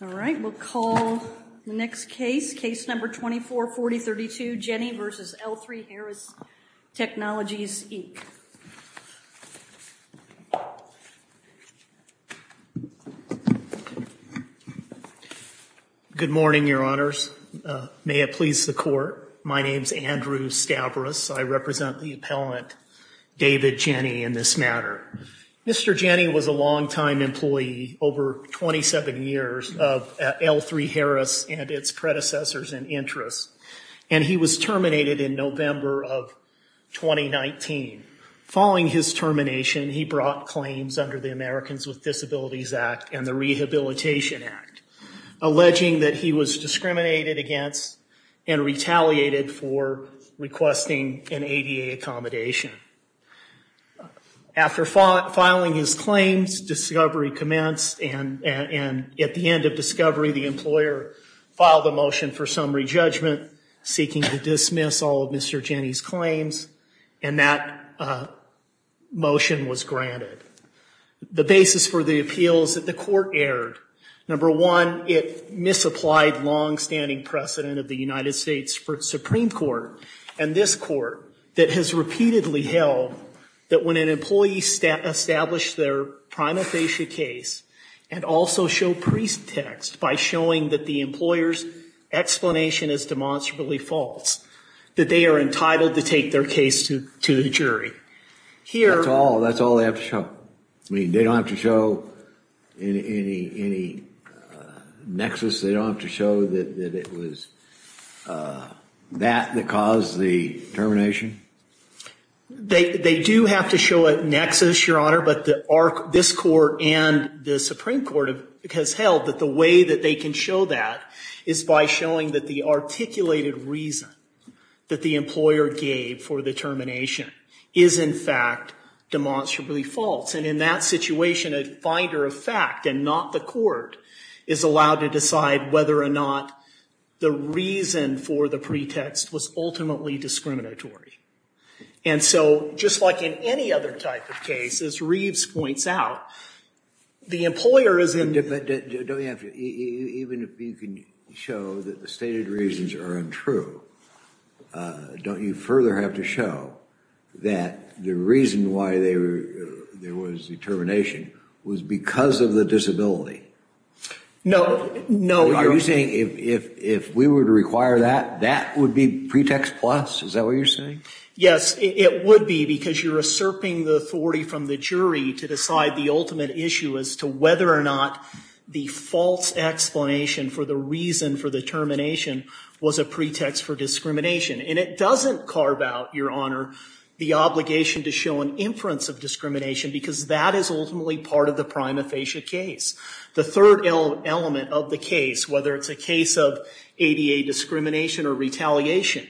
All right, we'll call the next case, case number 244032, Jenny v. L3Harris Technologies, Inc. Good morning, Your Honors. May it please the Court, my name is Andrew Stavros. I represent the appellant, David Jenny, in this matter. Mr. Jenny was a long-time employee over 27 years of L3Harris and its predecessors and interests, and he was terminated in November of 2019. Following his termination, he brought claims under the Americans with Disabilities Act and the Rehabilitation Act, alleging that he was discriminated against and retaliated for requesting an ADA accommodation. After filing his claims, discovery commenced, and at the end of discovery, the employer filed a motion for summary judgment, seeking to dismiss all of Mr. Jenny's claims, and that motion was granted. The basis for the appeal is that the Court erred. Number one, it misapplied long-standing precedent of the United States Supreme Court and this Court that has repeatedly held that when an employee establishes their prima facie case and also show pretext by showing that the employer's explanation is demonstrably false, that they are entitled to take their case to the jury. That's all they have to show? I mean, they don't have to show any nexus? They don't have to show that it was that that caused the termination? They do have to show a nexus, Your Honor, but this Court and the Supreme Court has held that the way that they can show that is by showing that the articulated reason that the employer gave for the termination is in fact demonstrably false, and in that situation, a finder of fact and not the Court is allowed to decide whether or not the reason for the pretext was ultimately discriminatory. And so, just like in any other type of case, as Reeves points out, the employer is independent. Even if you can show that the stated reasons are untrue, don't you further have to show that the reason why there was the termination was because of the disability? No, no, Your Honor. Are you saying if we were to require that, that would be pretext plus? Is that what you're saying? Yes, it would be because you're usurping the authority from the jury to decide the ultimate issue as to whether or not the false explanation for the reason for the termination was a pretext for discrimination. And it doesn't carve out, Your Honor, the obligation to show an inference of discrimination because that is ultimately part of the prima facie case. The third element of the case, whether it's a case of ADA discrimination or retaliation,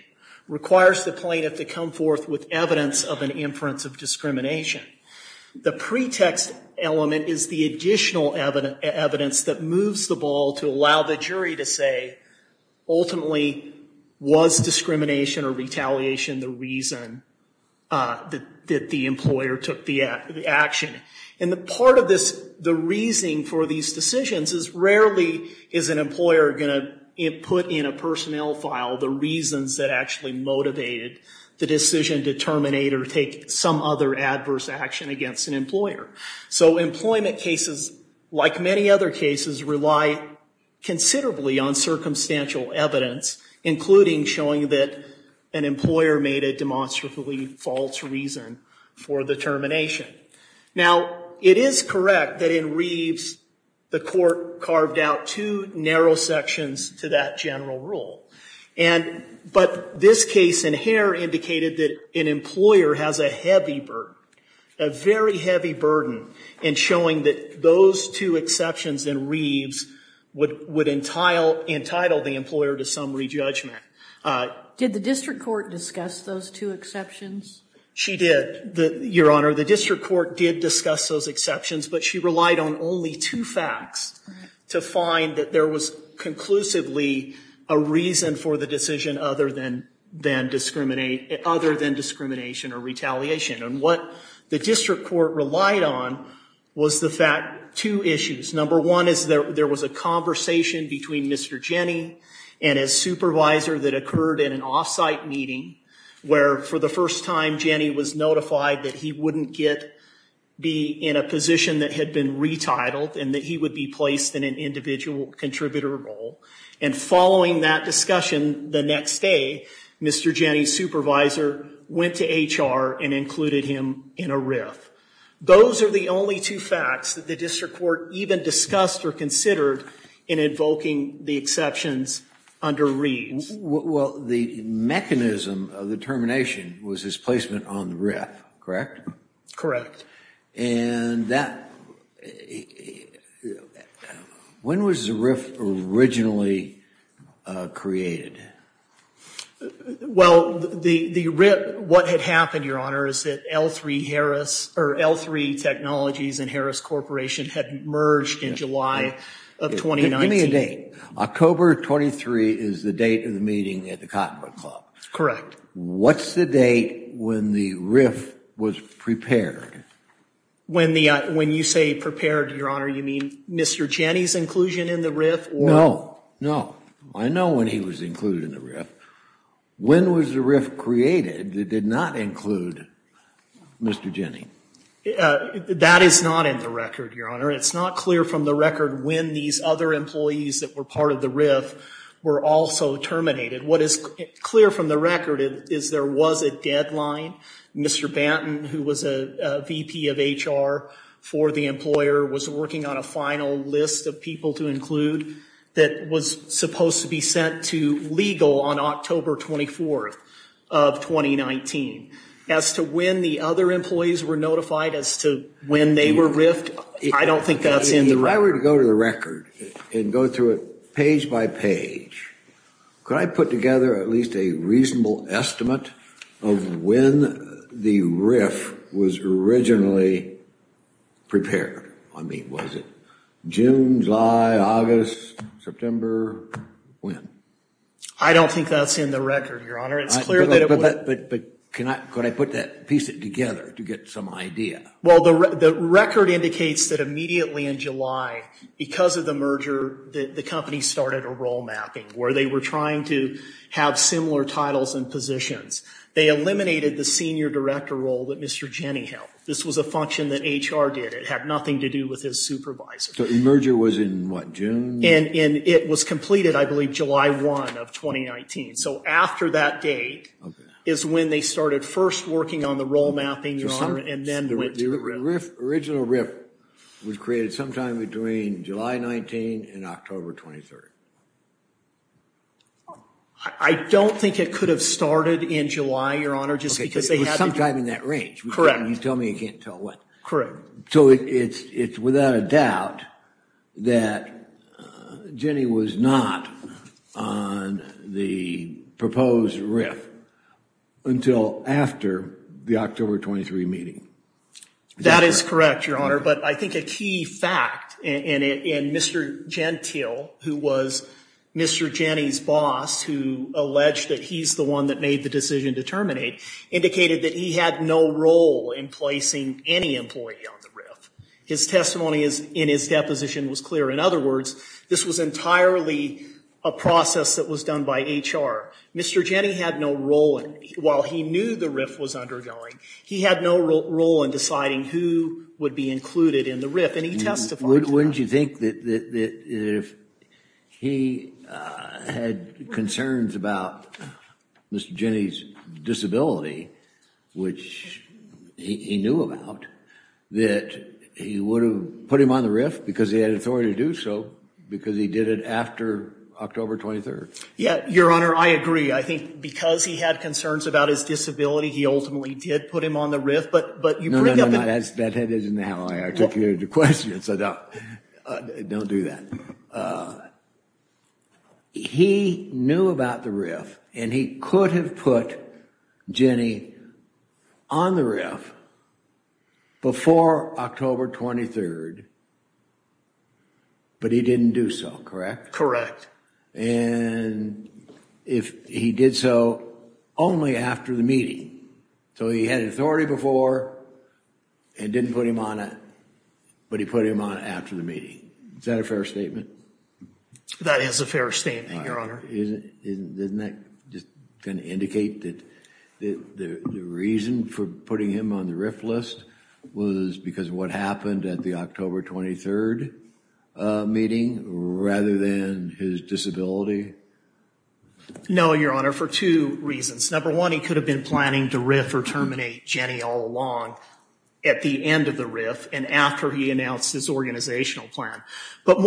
requires the plaintiff to come forth with evidence of an inference of discrimination. The pretext element is the additional evidence that moves the ball to allow the jury to say, ultimately, was discrimination or retaliation the reason that the employer took the action? And part of the reasoning for these decisions is rarely is an employer going to put in a personnel file the reasons that actually motivated the decision to terminate or take some other adverse action against an employer. So employment cases, like many other cases, rely considerably on circumstantial evidence, including showing that an employer made a demonstrably false reason for the termination. Now, it is correct that in Reeves, the court carved out two narrow sections to that general rule. But this case in Hare indicated that an employer has a heavy burden, a very heavy burden, in showing that those two exceptions in Reeves would entitle the employer to some re-judgment. Did the district court discuss those two exceptions? She did, Your Honor. The district court did discuss those exceptions, but she relied on only two facts to find that there was conclusively a reason for the decision other than discrimination or retaliation. And what the district court relied on was the fact two issues. Number one is there was a conversation between Mr. Jenny and his supervisor that occurred in an off-site meeting where, for the first time, Jenny was notified that he wouldn't be in a position that had been retitled and that he would be placed in an individual contributor role. And following that discussion, the next day, Mr. Jenny's supervisor went to HR and included him in a RIF. Those are the only two facts that the district court even discussed or considered in invoking the exceptions under Reeves. Well, the mechanism of the termination was his placement on the RIF, correct? Correct. And that, when was the RIF originally created? Well, the RIF, what had happened, Your Honor, is that L3 Technologies and Harris Corporation had merged in July of 2019. Give me a date. October 23 is the date of the meeting at the Cottonwood Club. Correct. What's the date when the RIF was prepared? When you say prepared, Your Honor, you mean Mr. Jenny's inclusion in the RIF? No, no. I know when he was included in the RIF. When was the RIF created that did not include Mr. Jenny? That is not in the record, Your Honor. It's not clear from the record when these other employees that were part of the RIF were also terminated. What is clear from the record is there was a deadline. Mr. Banton, who was a VP of HR for the employer, was working on a final list of people to include that was supposed to be sent to legal on October 24th of 2019. As to when the other employees were notified as to when they were RIFed, I don't think that's in the record. If I were to go to the record and go through it page by page, could I put together at least a reasonable estimate of when the RIF was originally prepared? I mean, was it June, July, August, September? When? I don't think that's in the record, Your Honor. But could I piece it together to get some idea? Well, the record indicates that immediately in July, because of the merger, the company started a role mapping where they were trying to have similar titles and positions. They eliminated the senior director role that Mr. Jenny held. This was a function that HR did. It had nothing to do with his supervisor. So the merger was in what, June? And it was completed, I believe, July 1 of 2019. So after that date is when they started first working on the role mapping, Your Honor, and then went to the RIF. The original RIF was created sometime between July 19 and October 23rd. I don't think it could have started in July, Your Honor, just because they had to. It was sometime in that range. Correct. You tell me you can't tell what. Correct. So it's without a doubt that Jenny was not on the proposed RIF until after the October 23 meeting. That is correct, Your Honor. But I think a key fact, and Mr. Gentile, who was Mr. Jenny's boss, who alleged that he's the one that made the decision to terminate, indicated that he had no role in placing any employee on the RIF. His testimony in his deposition was clear. In other words, this was entirely a process that was done by HR. While he knew the RIF was undergoing, he had no role in deciding who would be included in the RIF. And he testified to that. Wouldn't you think that if he had concerns about Mr. Jenny's disability, which he knew about, that he would have put him on the RIF because he had authority to do so, because he did it after October 23rd? Yeah, Your Honor, I agree. I think because he had concerns about his disability, he ultimately did put him on the RIF. No, no, no. That isn't how I articulated the question, so don't do that. He knew about the RIF, and he could have put Jenny on the RIF before October 23rd, but he didn't do so, correct? Correct. And if he did so only after the meeting, so he had authority before and didn't put him on it, but he put him on it after the meeting. Is that a fair statement? That is a fair statement, Your Honor. Isn't that just going to indicate that the reason for putting him on the RIF list was because of what happened at the October 23rd meeting rather than his disability? No, Your Honor, for two reasons. Number one, he could have been planning to RIF or terminate Jenny all along at the end of the RIF and after he announced his organizational plan. But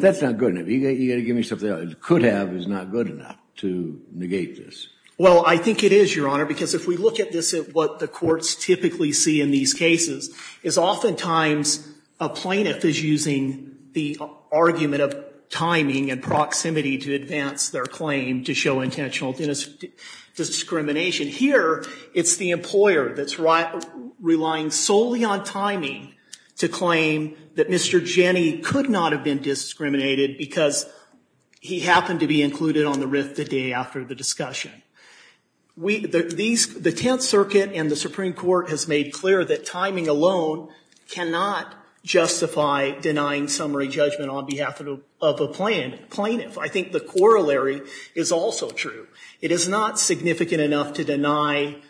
that's not good enough. You've got to give me something else. Could have is not good enough to negate this. Well, I think it is, Your Honor, because if we look at this, what the courts typically see in these cases is oftentimes a plaintiff is using the argument of timing and proximity to advance their claim to show intentional discrimination. Here, it's the employer that's relying solely on timing to claim that Mr. Jenny could not have been discriminated because he happened to be included on the RIF the day after the discussion. The Tenth Circuit and the Supreme Court has made clear that timing alone cannot justify denying summary judgment on behalf of a plaintiff. I think the corollary is also true. It is not significant enough to deny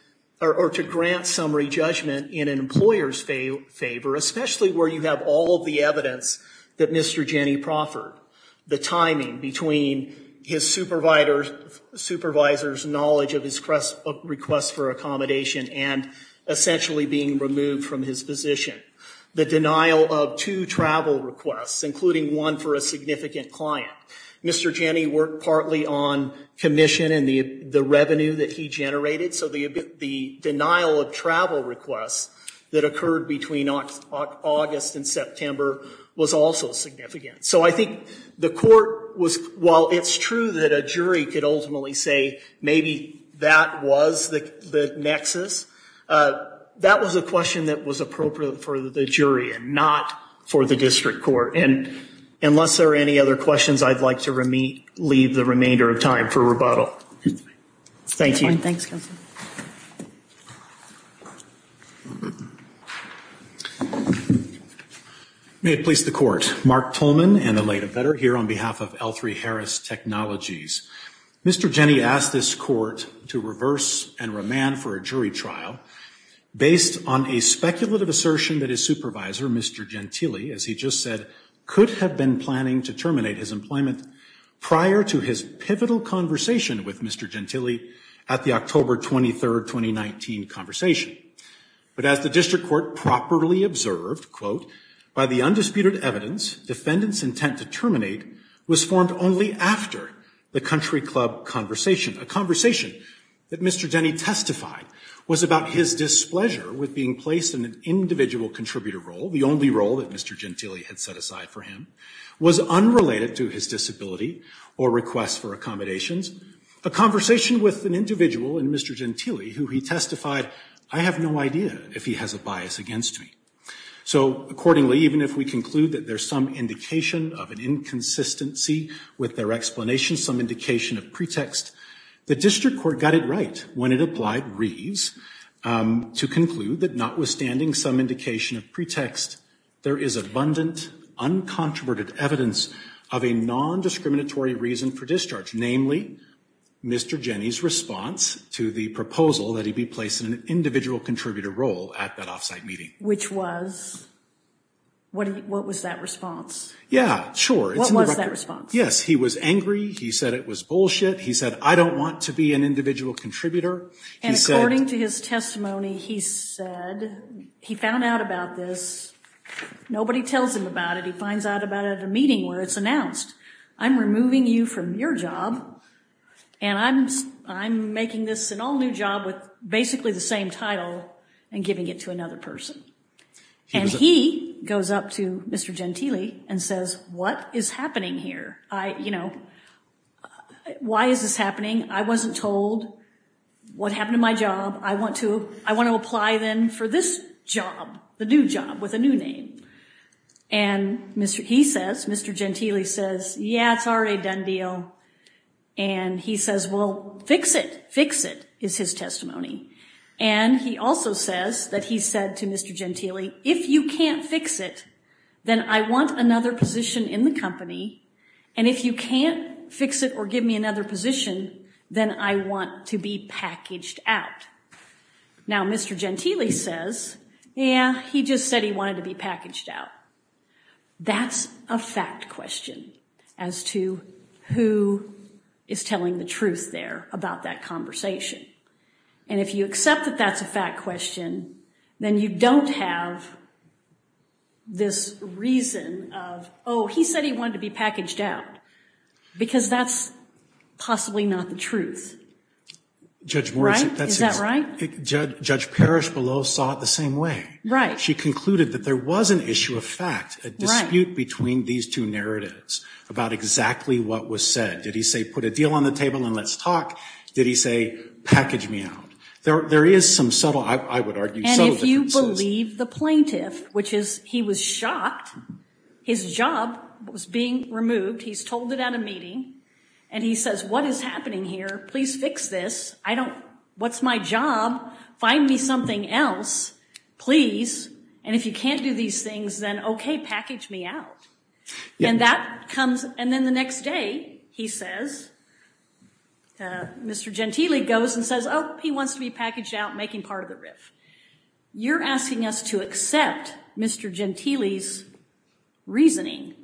or to grant summary judgment in an employer's favor, especially where you have all of the evidence that Mr. Jenny proffered. The timing between his supervisor's knowledge of his request for accommodation and essentially being removed from his position. The denial of two travel requests, including one for a significant client. Mr. Jenny worked partly on commission and the revenue that he generated. So the denial of travel requests that occurred between August and September was also significant. So I think the court was, while it's true that a jury could ultimately say maybe that was the nexus, that was a question that was appropriate for the jury and not for the district court. And unless there are any other questions, I'd like to leave the remainder of time for rebuttal. Thank you. Thanks, Counselor. May it please the Court. Mark Tolman and the Lady Vetter here on behalf of L3Harris Technologies. Mr. Jenny asked this court to reverse and remand for a jury trial based on a speculative assertion that his supervisor, Mr. Gentile, as he just said, could have been planning to terminate his employment prior to his pivotal conversation with Mr. Gentile at the October 23, 2019 conversation. But as the district court properly observed, quote, by the undisputed evidence, defendant's intent to terminate was formed only after the country club conversation. A conversation that Mr. Jenny testified was about his displeasure with being placed in an individual contributor role, the only role that Mr. Gentile had set aside for him, was unrelated to his disability or request for accommodations. A conversation with an individual in Mr. Gentile who he testified, I have no idea if he has a bias against me. So accordingly, even if we conclude that there's some indication of an inconsistency with their explanation, some indication of pretext, the district court got it right when it applied Reeves to conclude that notwithstanding some indication of pretext, there is abundant, uncontroverted evidence of a nondiscriminatory reason for discharge. Namely, Mr. Jenny's response to the proposal that he be placed in an individual contributor role at that off-site meeting. Which was, what was that response? Yeah, sure. What was that response? Yes, he was angry. He said it was bullshit. He said, I don't want to be an individual contributor. And according to his testimony, he said, he found out about this. Nobody tells him about it. He finds out about it at a meeting where it's announced. I'm removing you from your job. And I'm making this an all new job with basically the same title and giving it to another person. And he goes up to Mr. Gentile and says, what is happening here? I, you know, why is this happening? I wasn't told what happened to my job. I want to apply then for this job, the new job with a new name. And he says, Mr. Gentile says, yeah, it's already a done deal. And he says, well, fix it. Fix it is his testimony. And he also says that he said to Mr. Gentile, if you can't fix it, then I want another position in the company. And if you can't fix it or give me another position, then I want to be packaged out. Now, Mr. Gentile says, yeah, he just said he wanted to be packaged out. That's a fact question as to who is telling the truth there about that conversation. And if you accept that that's a fact question, then you don't have this reason of, oh, he said he wanted to be packaged out, because that's possibly not the truth. Right? Is that right? Judge Parrish below saw it the same way. She concluded that there was an issue of fact, a dispute between these two narratives about exactly what was said. Did he say put a deal on the table and let's talk? Did he say package me out? There is some subtle, I would argue, subtle differences. If you believe the plaintiff, which is he was shocked, his job was being removed. He's told it at a meeting. And he says, what is happening here? Please fix this. I don't. What's my job? Find me something else, please. And if you can't do these things, then OK, package me out. And that comes. And then the next day, he says, Mr. Gentile goes and says, oh, he wants to be packaged out, making part of the riff. You're asking us to accept Mr. Gentile's reasoning.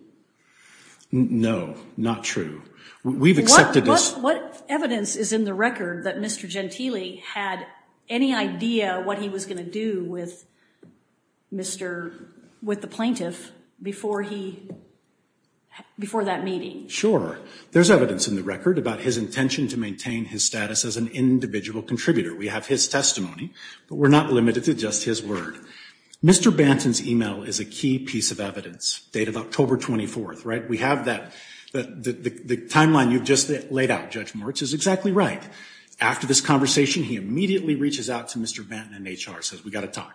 No, not true. We've accepted this. What evidence is in the record that Mr. Gentile had any idea what he was going to do with the plaintiff before that meeting? Sure. There's evidence in the record about his intention to maintain his status as an individual contributor. We have his testimony, but we're not limited to just his word. Mr. Banton's email is a key piece of evidence, date of October 24th. The timeline you've just laid out, Judge Moritz, is exactly right. After this conversation, he immediately reaches out to Mr. Banton in HR and says, we've got to talk.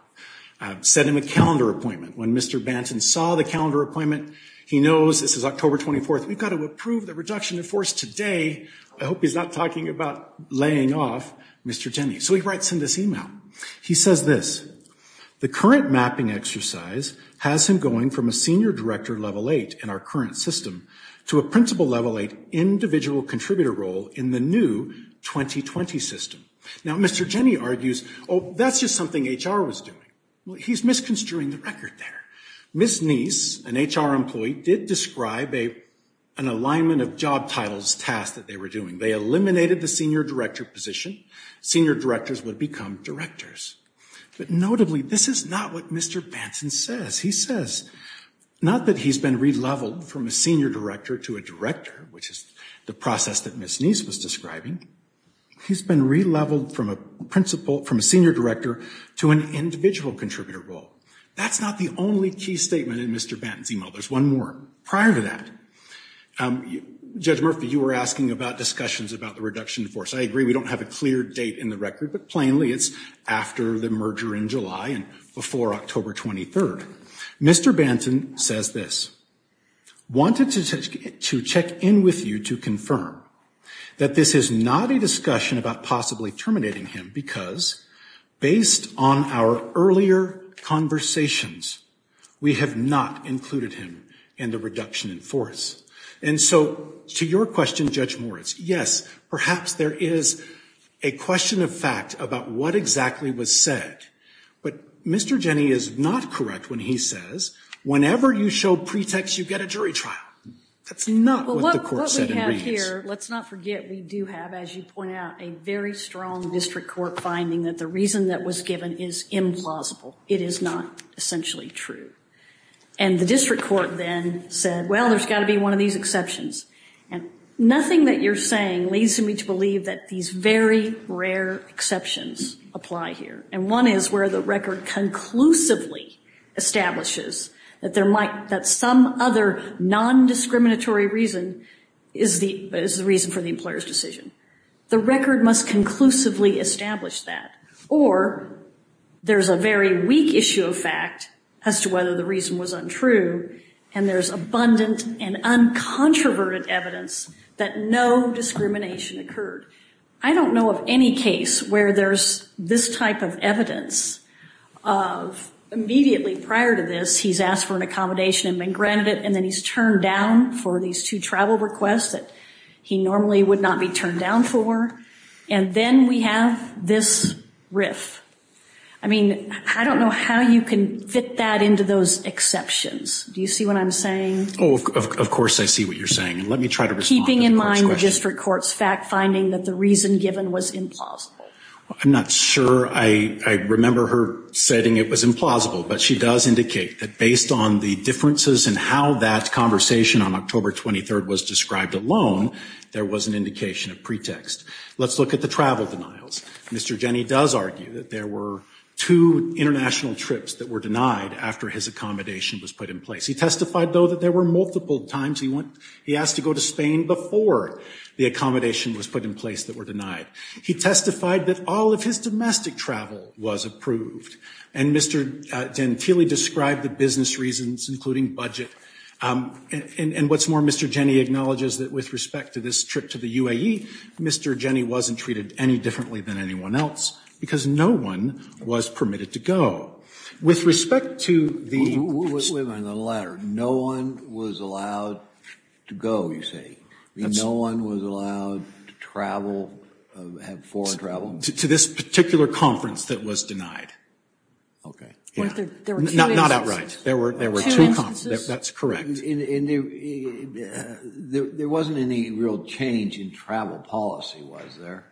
Set him a calendar appointment. When Mr. Banton saw the calendar appointment, he knows this is October 24th. We've got to approve the reduction of force today. I hope he's not talking about laying off Mr. Gentile. So he writes him this email. He says this, the current mapping exercise has him going from a senior director level 8 in our current system to a principal level 8 individual contributor role in the new 2020 system. Now, Mr. Gentile argues, oh, that's just something HR was doing. He's misconstruing the record there. Ms. Neese, an HR employee, did describe an alignment of job titles task that they were doing. They eliminated the senior director position. Senior directors would become directors. But notably, this is not what Mr. Banton says. He says not that he's been re-leveled from a senior director to a director, which is the process that Ms. Neese was describing. He's been re-leveled from a principal, from a senior director to an individual contributor role. That's not the only key statement in Mr. Banton's email. There's one more. Prior to that, Judge Murphy, you were asking about discussions about the reduction of force. I agree we don't have a clear date in the record. But plainly, it's after the merger in July and before October 23rd. Mr. Banton says this. Wanted to check in with you to confirm that this is not a discussion about possibly terminating him because, based on our earlier conversations, we have not included him in the reduction in force. And so, to your question, Judge Moritz, yes, perhaps there is a question of fact about what exactly was said. But Mr. Jenney is not correct when he says whenever you show pretext, you get a jury trial. That's not what the court said in Regents. Well, what we have here, let's not forget, we do have, as you point out, a very strong district court finding that the reason that was given is implausible. It is not essentially true. And the district court then said, well, there's got to be one of these exceptions. And nothing that you're saying leads me to believe that these very rare exceptions apply here. And one is where the record conclusively establishes that some other non-discriminatory reason is the reason for the employer's decision. The record must conclusively establish that. Or there's a very weak issue of fact as to whether the reason was untrue, and there's abundant and uncontroverted evidence that no discrimination occurred. I don't know of any case where there's this type of evidence of immediately prior to this, he's asked for an accommodation and been granted it, and then he's turned down for these two travel requests that he normally would not be turned down for. And then we have this riff. I mean, I don't know how you can fit that into those exceptions. Do you see what I'm saying? Oh, of course I see what you're saying. Let me try to respond. Keeping in mind the district court's fact finding that the reason given was implausible. I'm not sure. I remember her saying it was implausible, but she does indicate that based on the differences in how that conversation on October 23rd was described alone, there was an indication, a pretext. Let's look at the travel denials. Mr. Jenny does argue that there were two international trips that were denied after his accommodation was put in place. He testified, though, that there were multiple times he asked to go to Spain before the accommodation was put in place that were denied. He testified that all of his domestic travel was approved. And Mr. Gentile described the business reasons, including budget. And what's more, Mr. Jenny acknowledges that with respect to this trip to the UAE, Mr. Jenny wasn't treated any differently than anyone else because no one was permitted to go. With respect to the- Wait a minute. The latter. No one was allowed to go, you say? No one was allowed to travel, have foreign travel? To this particular conference that was denied. Okay. Not outright. There were two conferences. That's correct. And there wasn't any real change in travel policy, was there?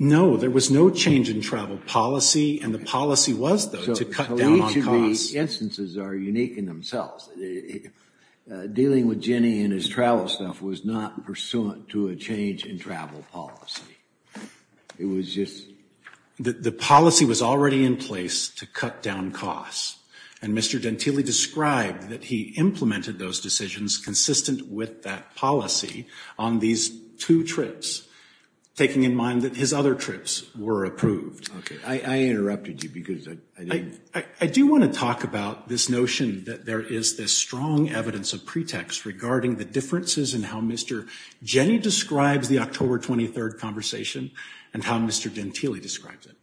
No, there was no change in travel policy, and the policy was, though, to cut down on costs. So each of the instances are unique in themselves. Dealing with Jenny and his travel stuff was not pursuant to a change in travel policy. It was just- The policy was already in place to cut down costs. And Mr. Dantili described that he implemented those decisions consistent with that policy on these two trips, taking in mind that his other trips were approved. Okay. I interrupted you because I didn't- I do want to talk about this notion that there is this strong evidence of pretext regarding the differences in how Mr. Jenny describes the October 23rd conversation and how Mr. Dantili describes it.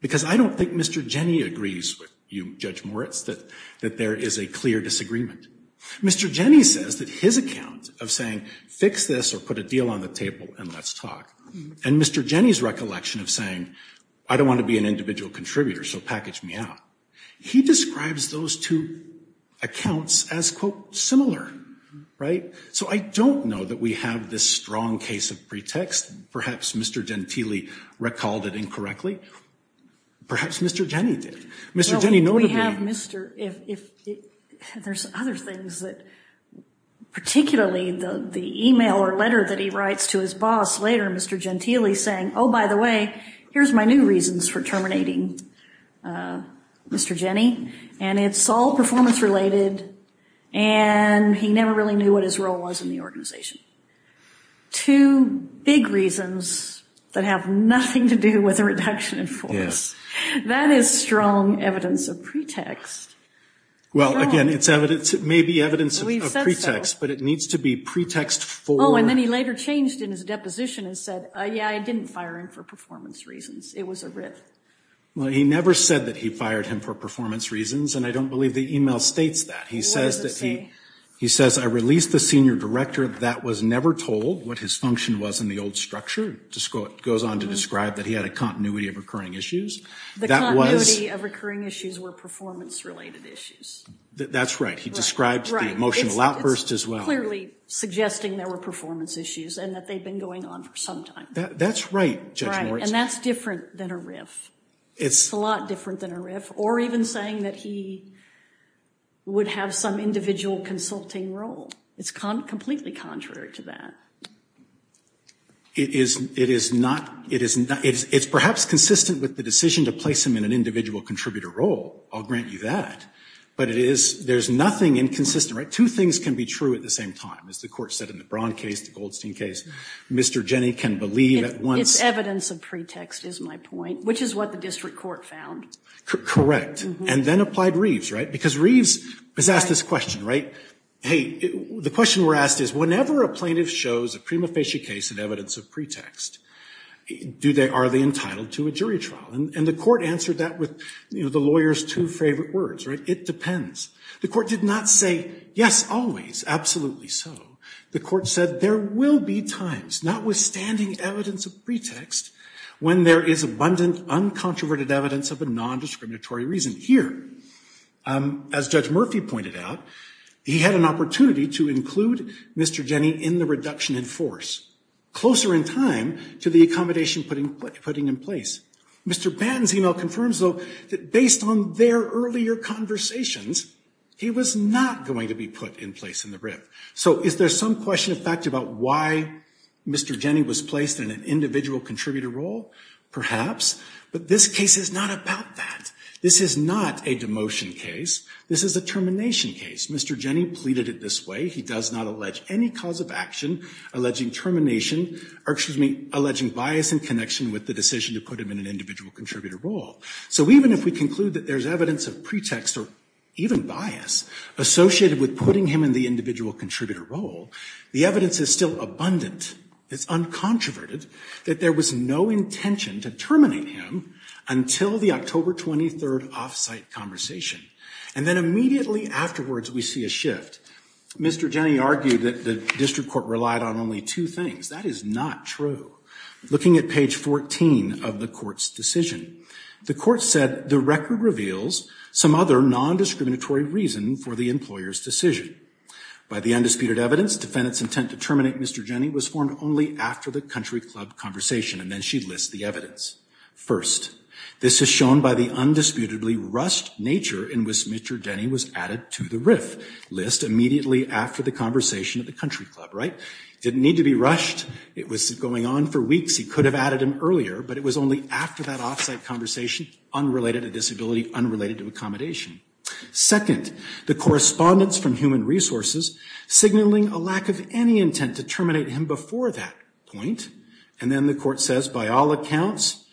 Because I don't think Mr. Jenny agrees with you, Judge Moritz, that there is a clear disagreement. Mr. Jenny says that his account of saying, fix this or put a deal on the table and let's talk, and Mr. Jenny's recollection of saying, I don't want to be an individual contributor, so package me out, he describes those two accounts as, quote, similar. Right? So I don't know that we have this strong case of pretext. Perhaps Mr. Dantili recalled it incorrectly. Perhaps Mr. Jenny did. Mr. Jenny noted that- Well, we have Mr. If- There's other things that, particularly the email or letter that he writes to his boss later, Mr. Dantili saying, oh, by the way, here's my new reasons for terminating Mr. Jenny. And it's all performance related, and he never really knew what his role was in the organization. Two big reasons that have nothing to do with a reduction in force. That is strong evidence of pretext. Well, again, it may be evidence of pretext, but it needs to be pretext for- Oh, and then he later changed in his deposition and said, yeah, I didn't fire him for performance reasons. It was a writ. Well, he never said that he fired him for performance reasons, and I don't believe the email states that. What does it say? He says, I released the senior director that was never told what his function was in the old structure. Just goes on to describe that he had a continuity of recurring issues. The continuity of recurring issues were performance related issues. That's right. He described the emotional outburst as well. It's clearly suggesting there were performance issues and that they've been going on for some time. That's right, Judge Moritz. And that's different than a riff. It's a lot different than a riff. Or even saying that he would have some individual consulting role. It's completely contrary to that. It's perhaps consistent with the decision to place him in an individual contributor role. I'll grant you that. But there's nothing inconsistent. Two things can be true at the same time, as the court said in the Braun case, the Goldstein case. Mr. Jenny can believe at once- It's evidence of pretext, is my point, which is what the district court found. Correct. And then applied Reeves, right? Because Reeves was asked this question, right? Hey, the question we're asked is, whenever a plaintiff shows a prima facie case in evidence of pretext, are they entitled to a jury trial? And the court answered that with the lawyer's two favorite words, right? It depends. The court did not say, yes, always, absolutely so. The court said there will be times, notwithstanding evidence of pretext, when there is abundant, uncontroverted evidence of a nondiscriminatory reason. Here, as Judge Murphy pointed out, he had an opportunity to include Mr. Jenny in the reduction in force. Closer in time to the accommodation putting in place. Mr. Banton's email confirms, though, that based on their earlier conversations, he was not going to be put in place in the riff. So is there some question of fact about why Mr. Jenny was placed in an individual contributor role? Perhaps. But this case is not about that. This is not a demotion case. This is a termination case. Mr. Jenny pleaded it this way. He does not allege any cause of action alleging termination or, excuse me, alleging bias in connection with the decision to put him in an individual contributor role. So even if we conclude that there's evidence of pretext or even bias associated with putting him in the individual contributor role, the evidence is still abundant. It's uncontroverted that there was no intention to terminate him until the October 23rd off-site conversation. And then immediately afterwards, we see a shift. Mr. Jenny argued that the district court relied on only two things. That is not true. Looking at page 14 of the court's decision, the court said the record reveals some other nondiscriminatory reason for the employer's decision. By the undisputed evidence, defendant's intent to terminate Mr. Jenny was formed only after the country club conversation. And then she lists the evidence. First, this is shown by the undisputedly rushed nature in which Mr. Jenny was added to the riff list immediately after the conversation at the country club. Right? Didn't need to be rushed. It was going on for weeks. He could have added him earlier, but it was only after that off-site conversation unrelated to disability, unrelated to accommodation. Second, the correspondence from human resources signaling a lack of any intent to terminate him before that point. And then the court says, by all accounts,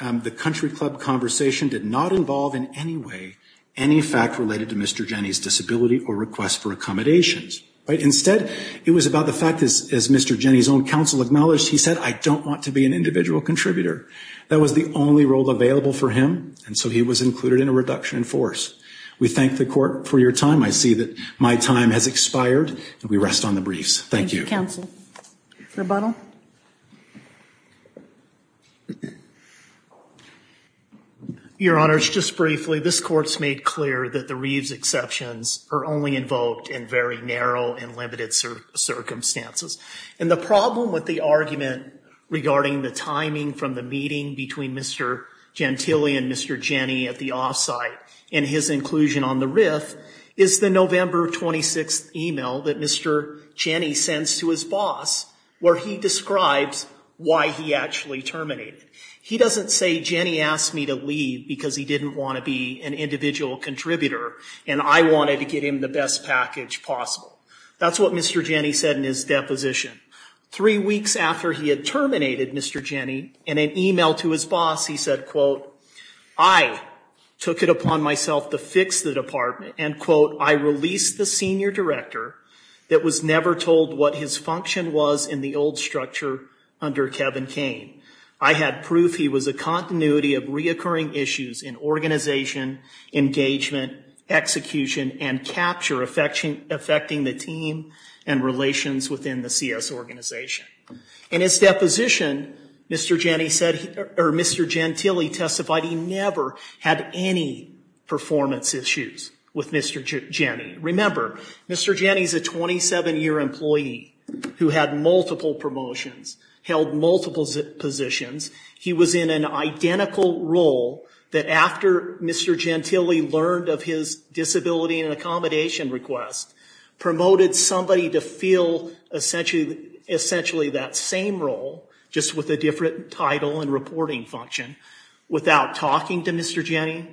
the country club conversation did not involve in any way any fact related to Mr. Jenny's disability or request for accommodations. Right? Instead, it was about the fact, as Mr. Jenny's own counsel acknowledged, he said, I don't want to be an individual contributor. That was the only role available for him, and so he was included in a reduction in force. We thank the court for your time. I see that my time has expired, and we rest on the briefs. Thank you. Thank you, counsel. Rebuttal? Your Honors, just briefly, this court's made clear that the Reeves exceptions are only invoked in very narrow and limited circumstances. And the problem with the argument regarding the timing from the meeting between Mr. Gentile and Mr. Jenny at the off-site and his inclusion on the RIF is the November 26th email that Mr. Jenny sends to his boss, where he describes why he actually terminated. He doesn't say, Jenny asked me to leave because he didn't want to be an individual contributor, and I wanted to get him the best package possible. That's what Mr. Jenny said in his deposition. Three weeks after he had terminated Mr. Jenny, in an email to his boss, he said, quote, I took it upon myself to fix the department, and, quote, I released the senior director that was never told what his function was in the old structure under Kevin Kane. I had proof he was a continuity of reoccurring issues in organization, engagement, execution, and capture affecting the team and relations within the CS organization. In his deposition, Mr. Gentile testified he never had any performance issues with Mr. Jenny. Remember, Mr. Jenny is a 27-year employee who had multiple promotions, held multiple positions. He was in an identical role that, after Mr. Gentile learned of his disability and accommodation request, promoted somebody to fill essentially that same role, just with a different title and reporting function, without talking to Mr. Jenny,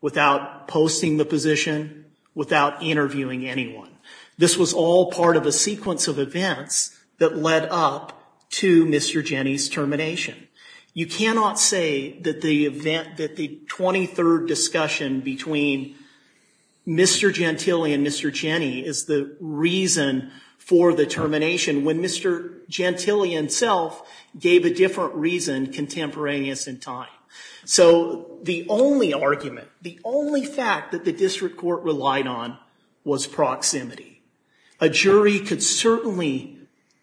without posting the position, without interviewing anyone. This was all part of a sequence of events that led up to Mr. Jenny's termination. You cannot say that the event, that the 23rd discussion between Mr. Gentile and Mr. Jenny is the reason for the termination when Mr. Gentile himself gave a different reason contemporaneous in time. So the only argument, the only fact that the district court relied on was proximity. A jury could certainly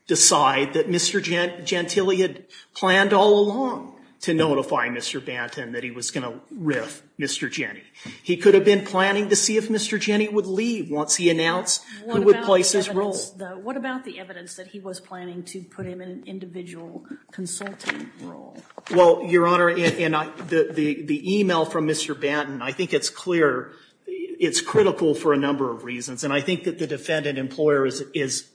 decide that Mr. Gentile had planned all along to notify Mr. Banton that he was going to riff Mr. Jenny. He could have been planning to see if Mr. Jenny would leave once he announced who would place his role. What about the evidence that he was planning to put him in an individual consulting role? Well, Your Honor, the email from Mr. Banton, I think it's clear, it's critical for a number of reasons. And I think that the defendant employer is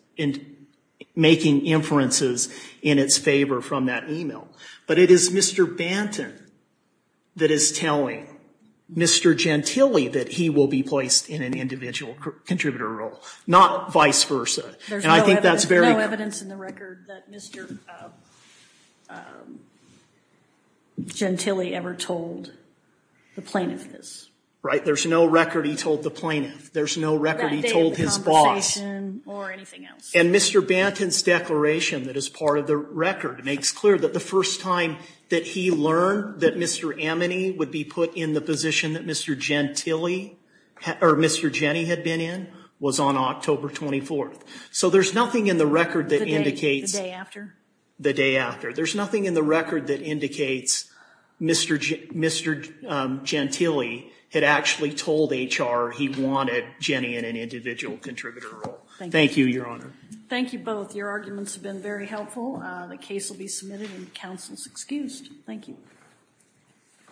making inferences in its favor from that email. But it is Mr. Banton that is telling Mr. Gentile that he will be placed in an individual contributor role, not vice versa. There's no evidence in the record that Mr. Gentile ever told the plaintiff this. Right, there's no record he told the plaintiff. There's no record he told his boss. Or anything else. And Mr. Banton's declaration that is part of the record makes clear that the first time that he learned that Mr. Ameney would be put in the position that Mr. Gentile, or Mr. Jenny had been in, was on October 24th. So there's nothing in the record that indicates. The day after? The day after. There's nothing in the record that indicates Mr. Gentile had actually told HR he wanted Jenny in an individual contributor role. Thank you, Your Honor. Thank you both. Your arguments have been very helpful. The case will be submitted and counsel is excused. Thank you.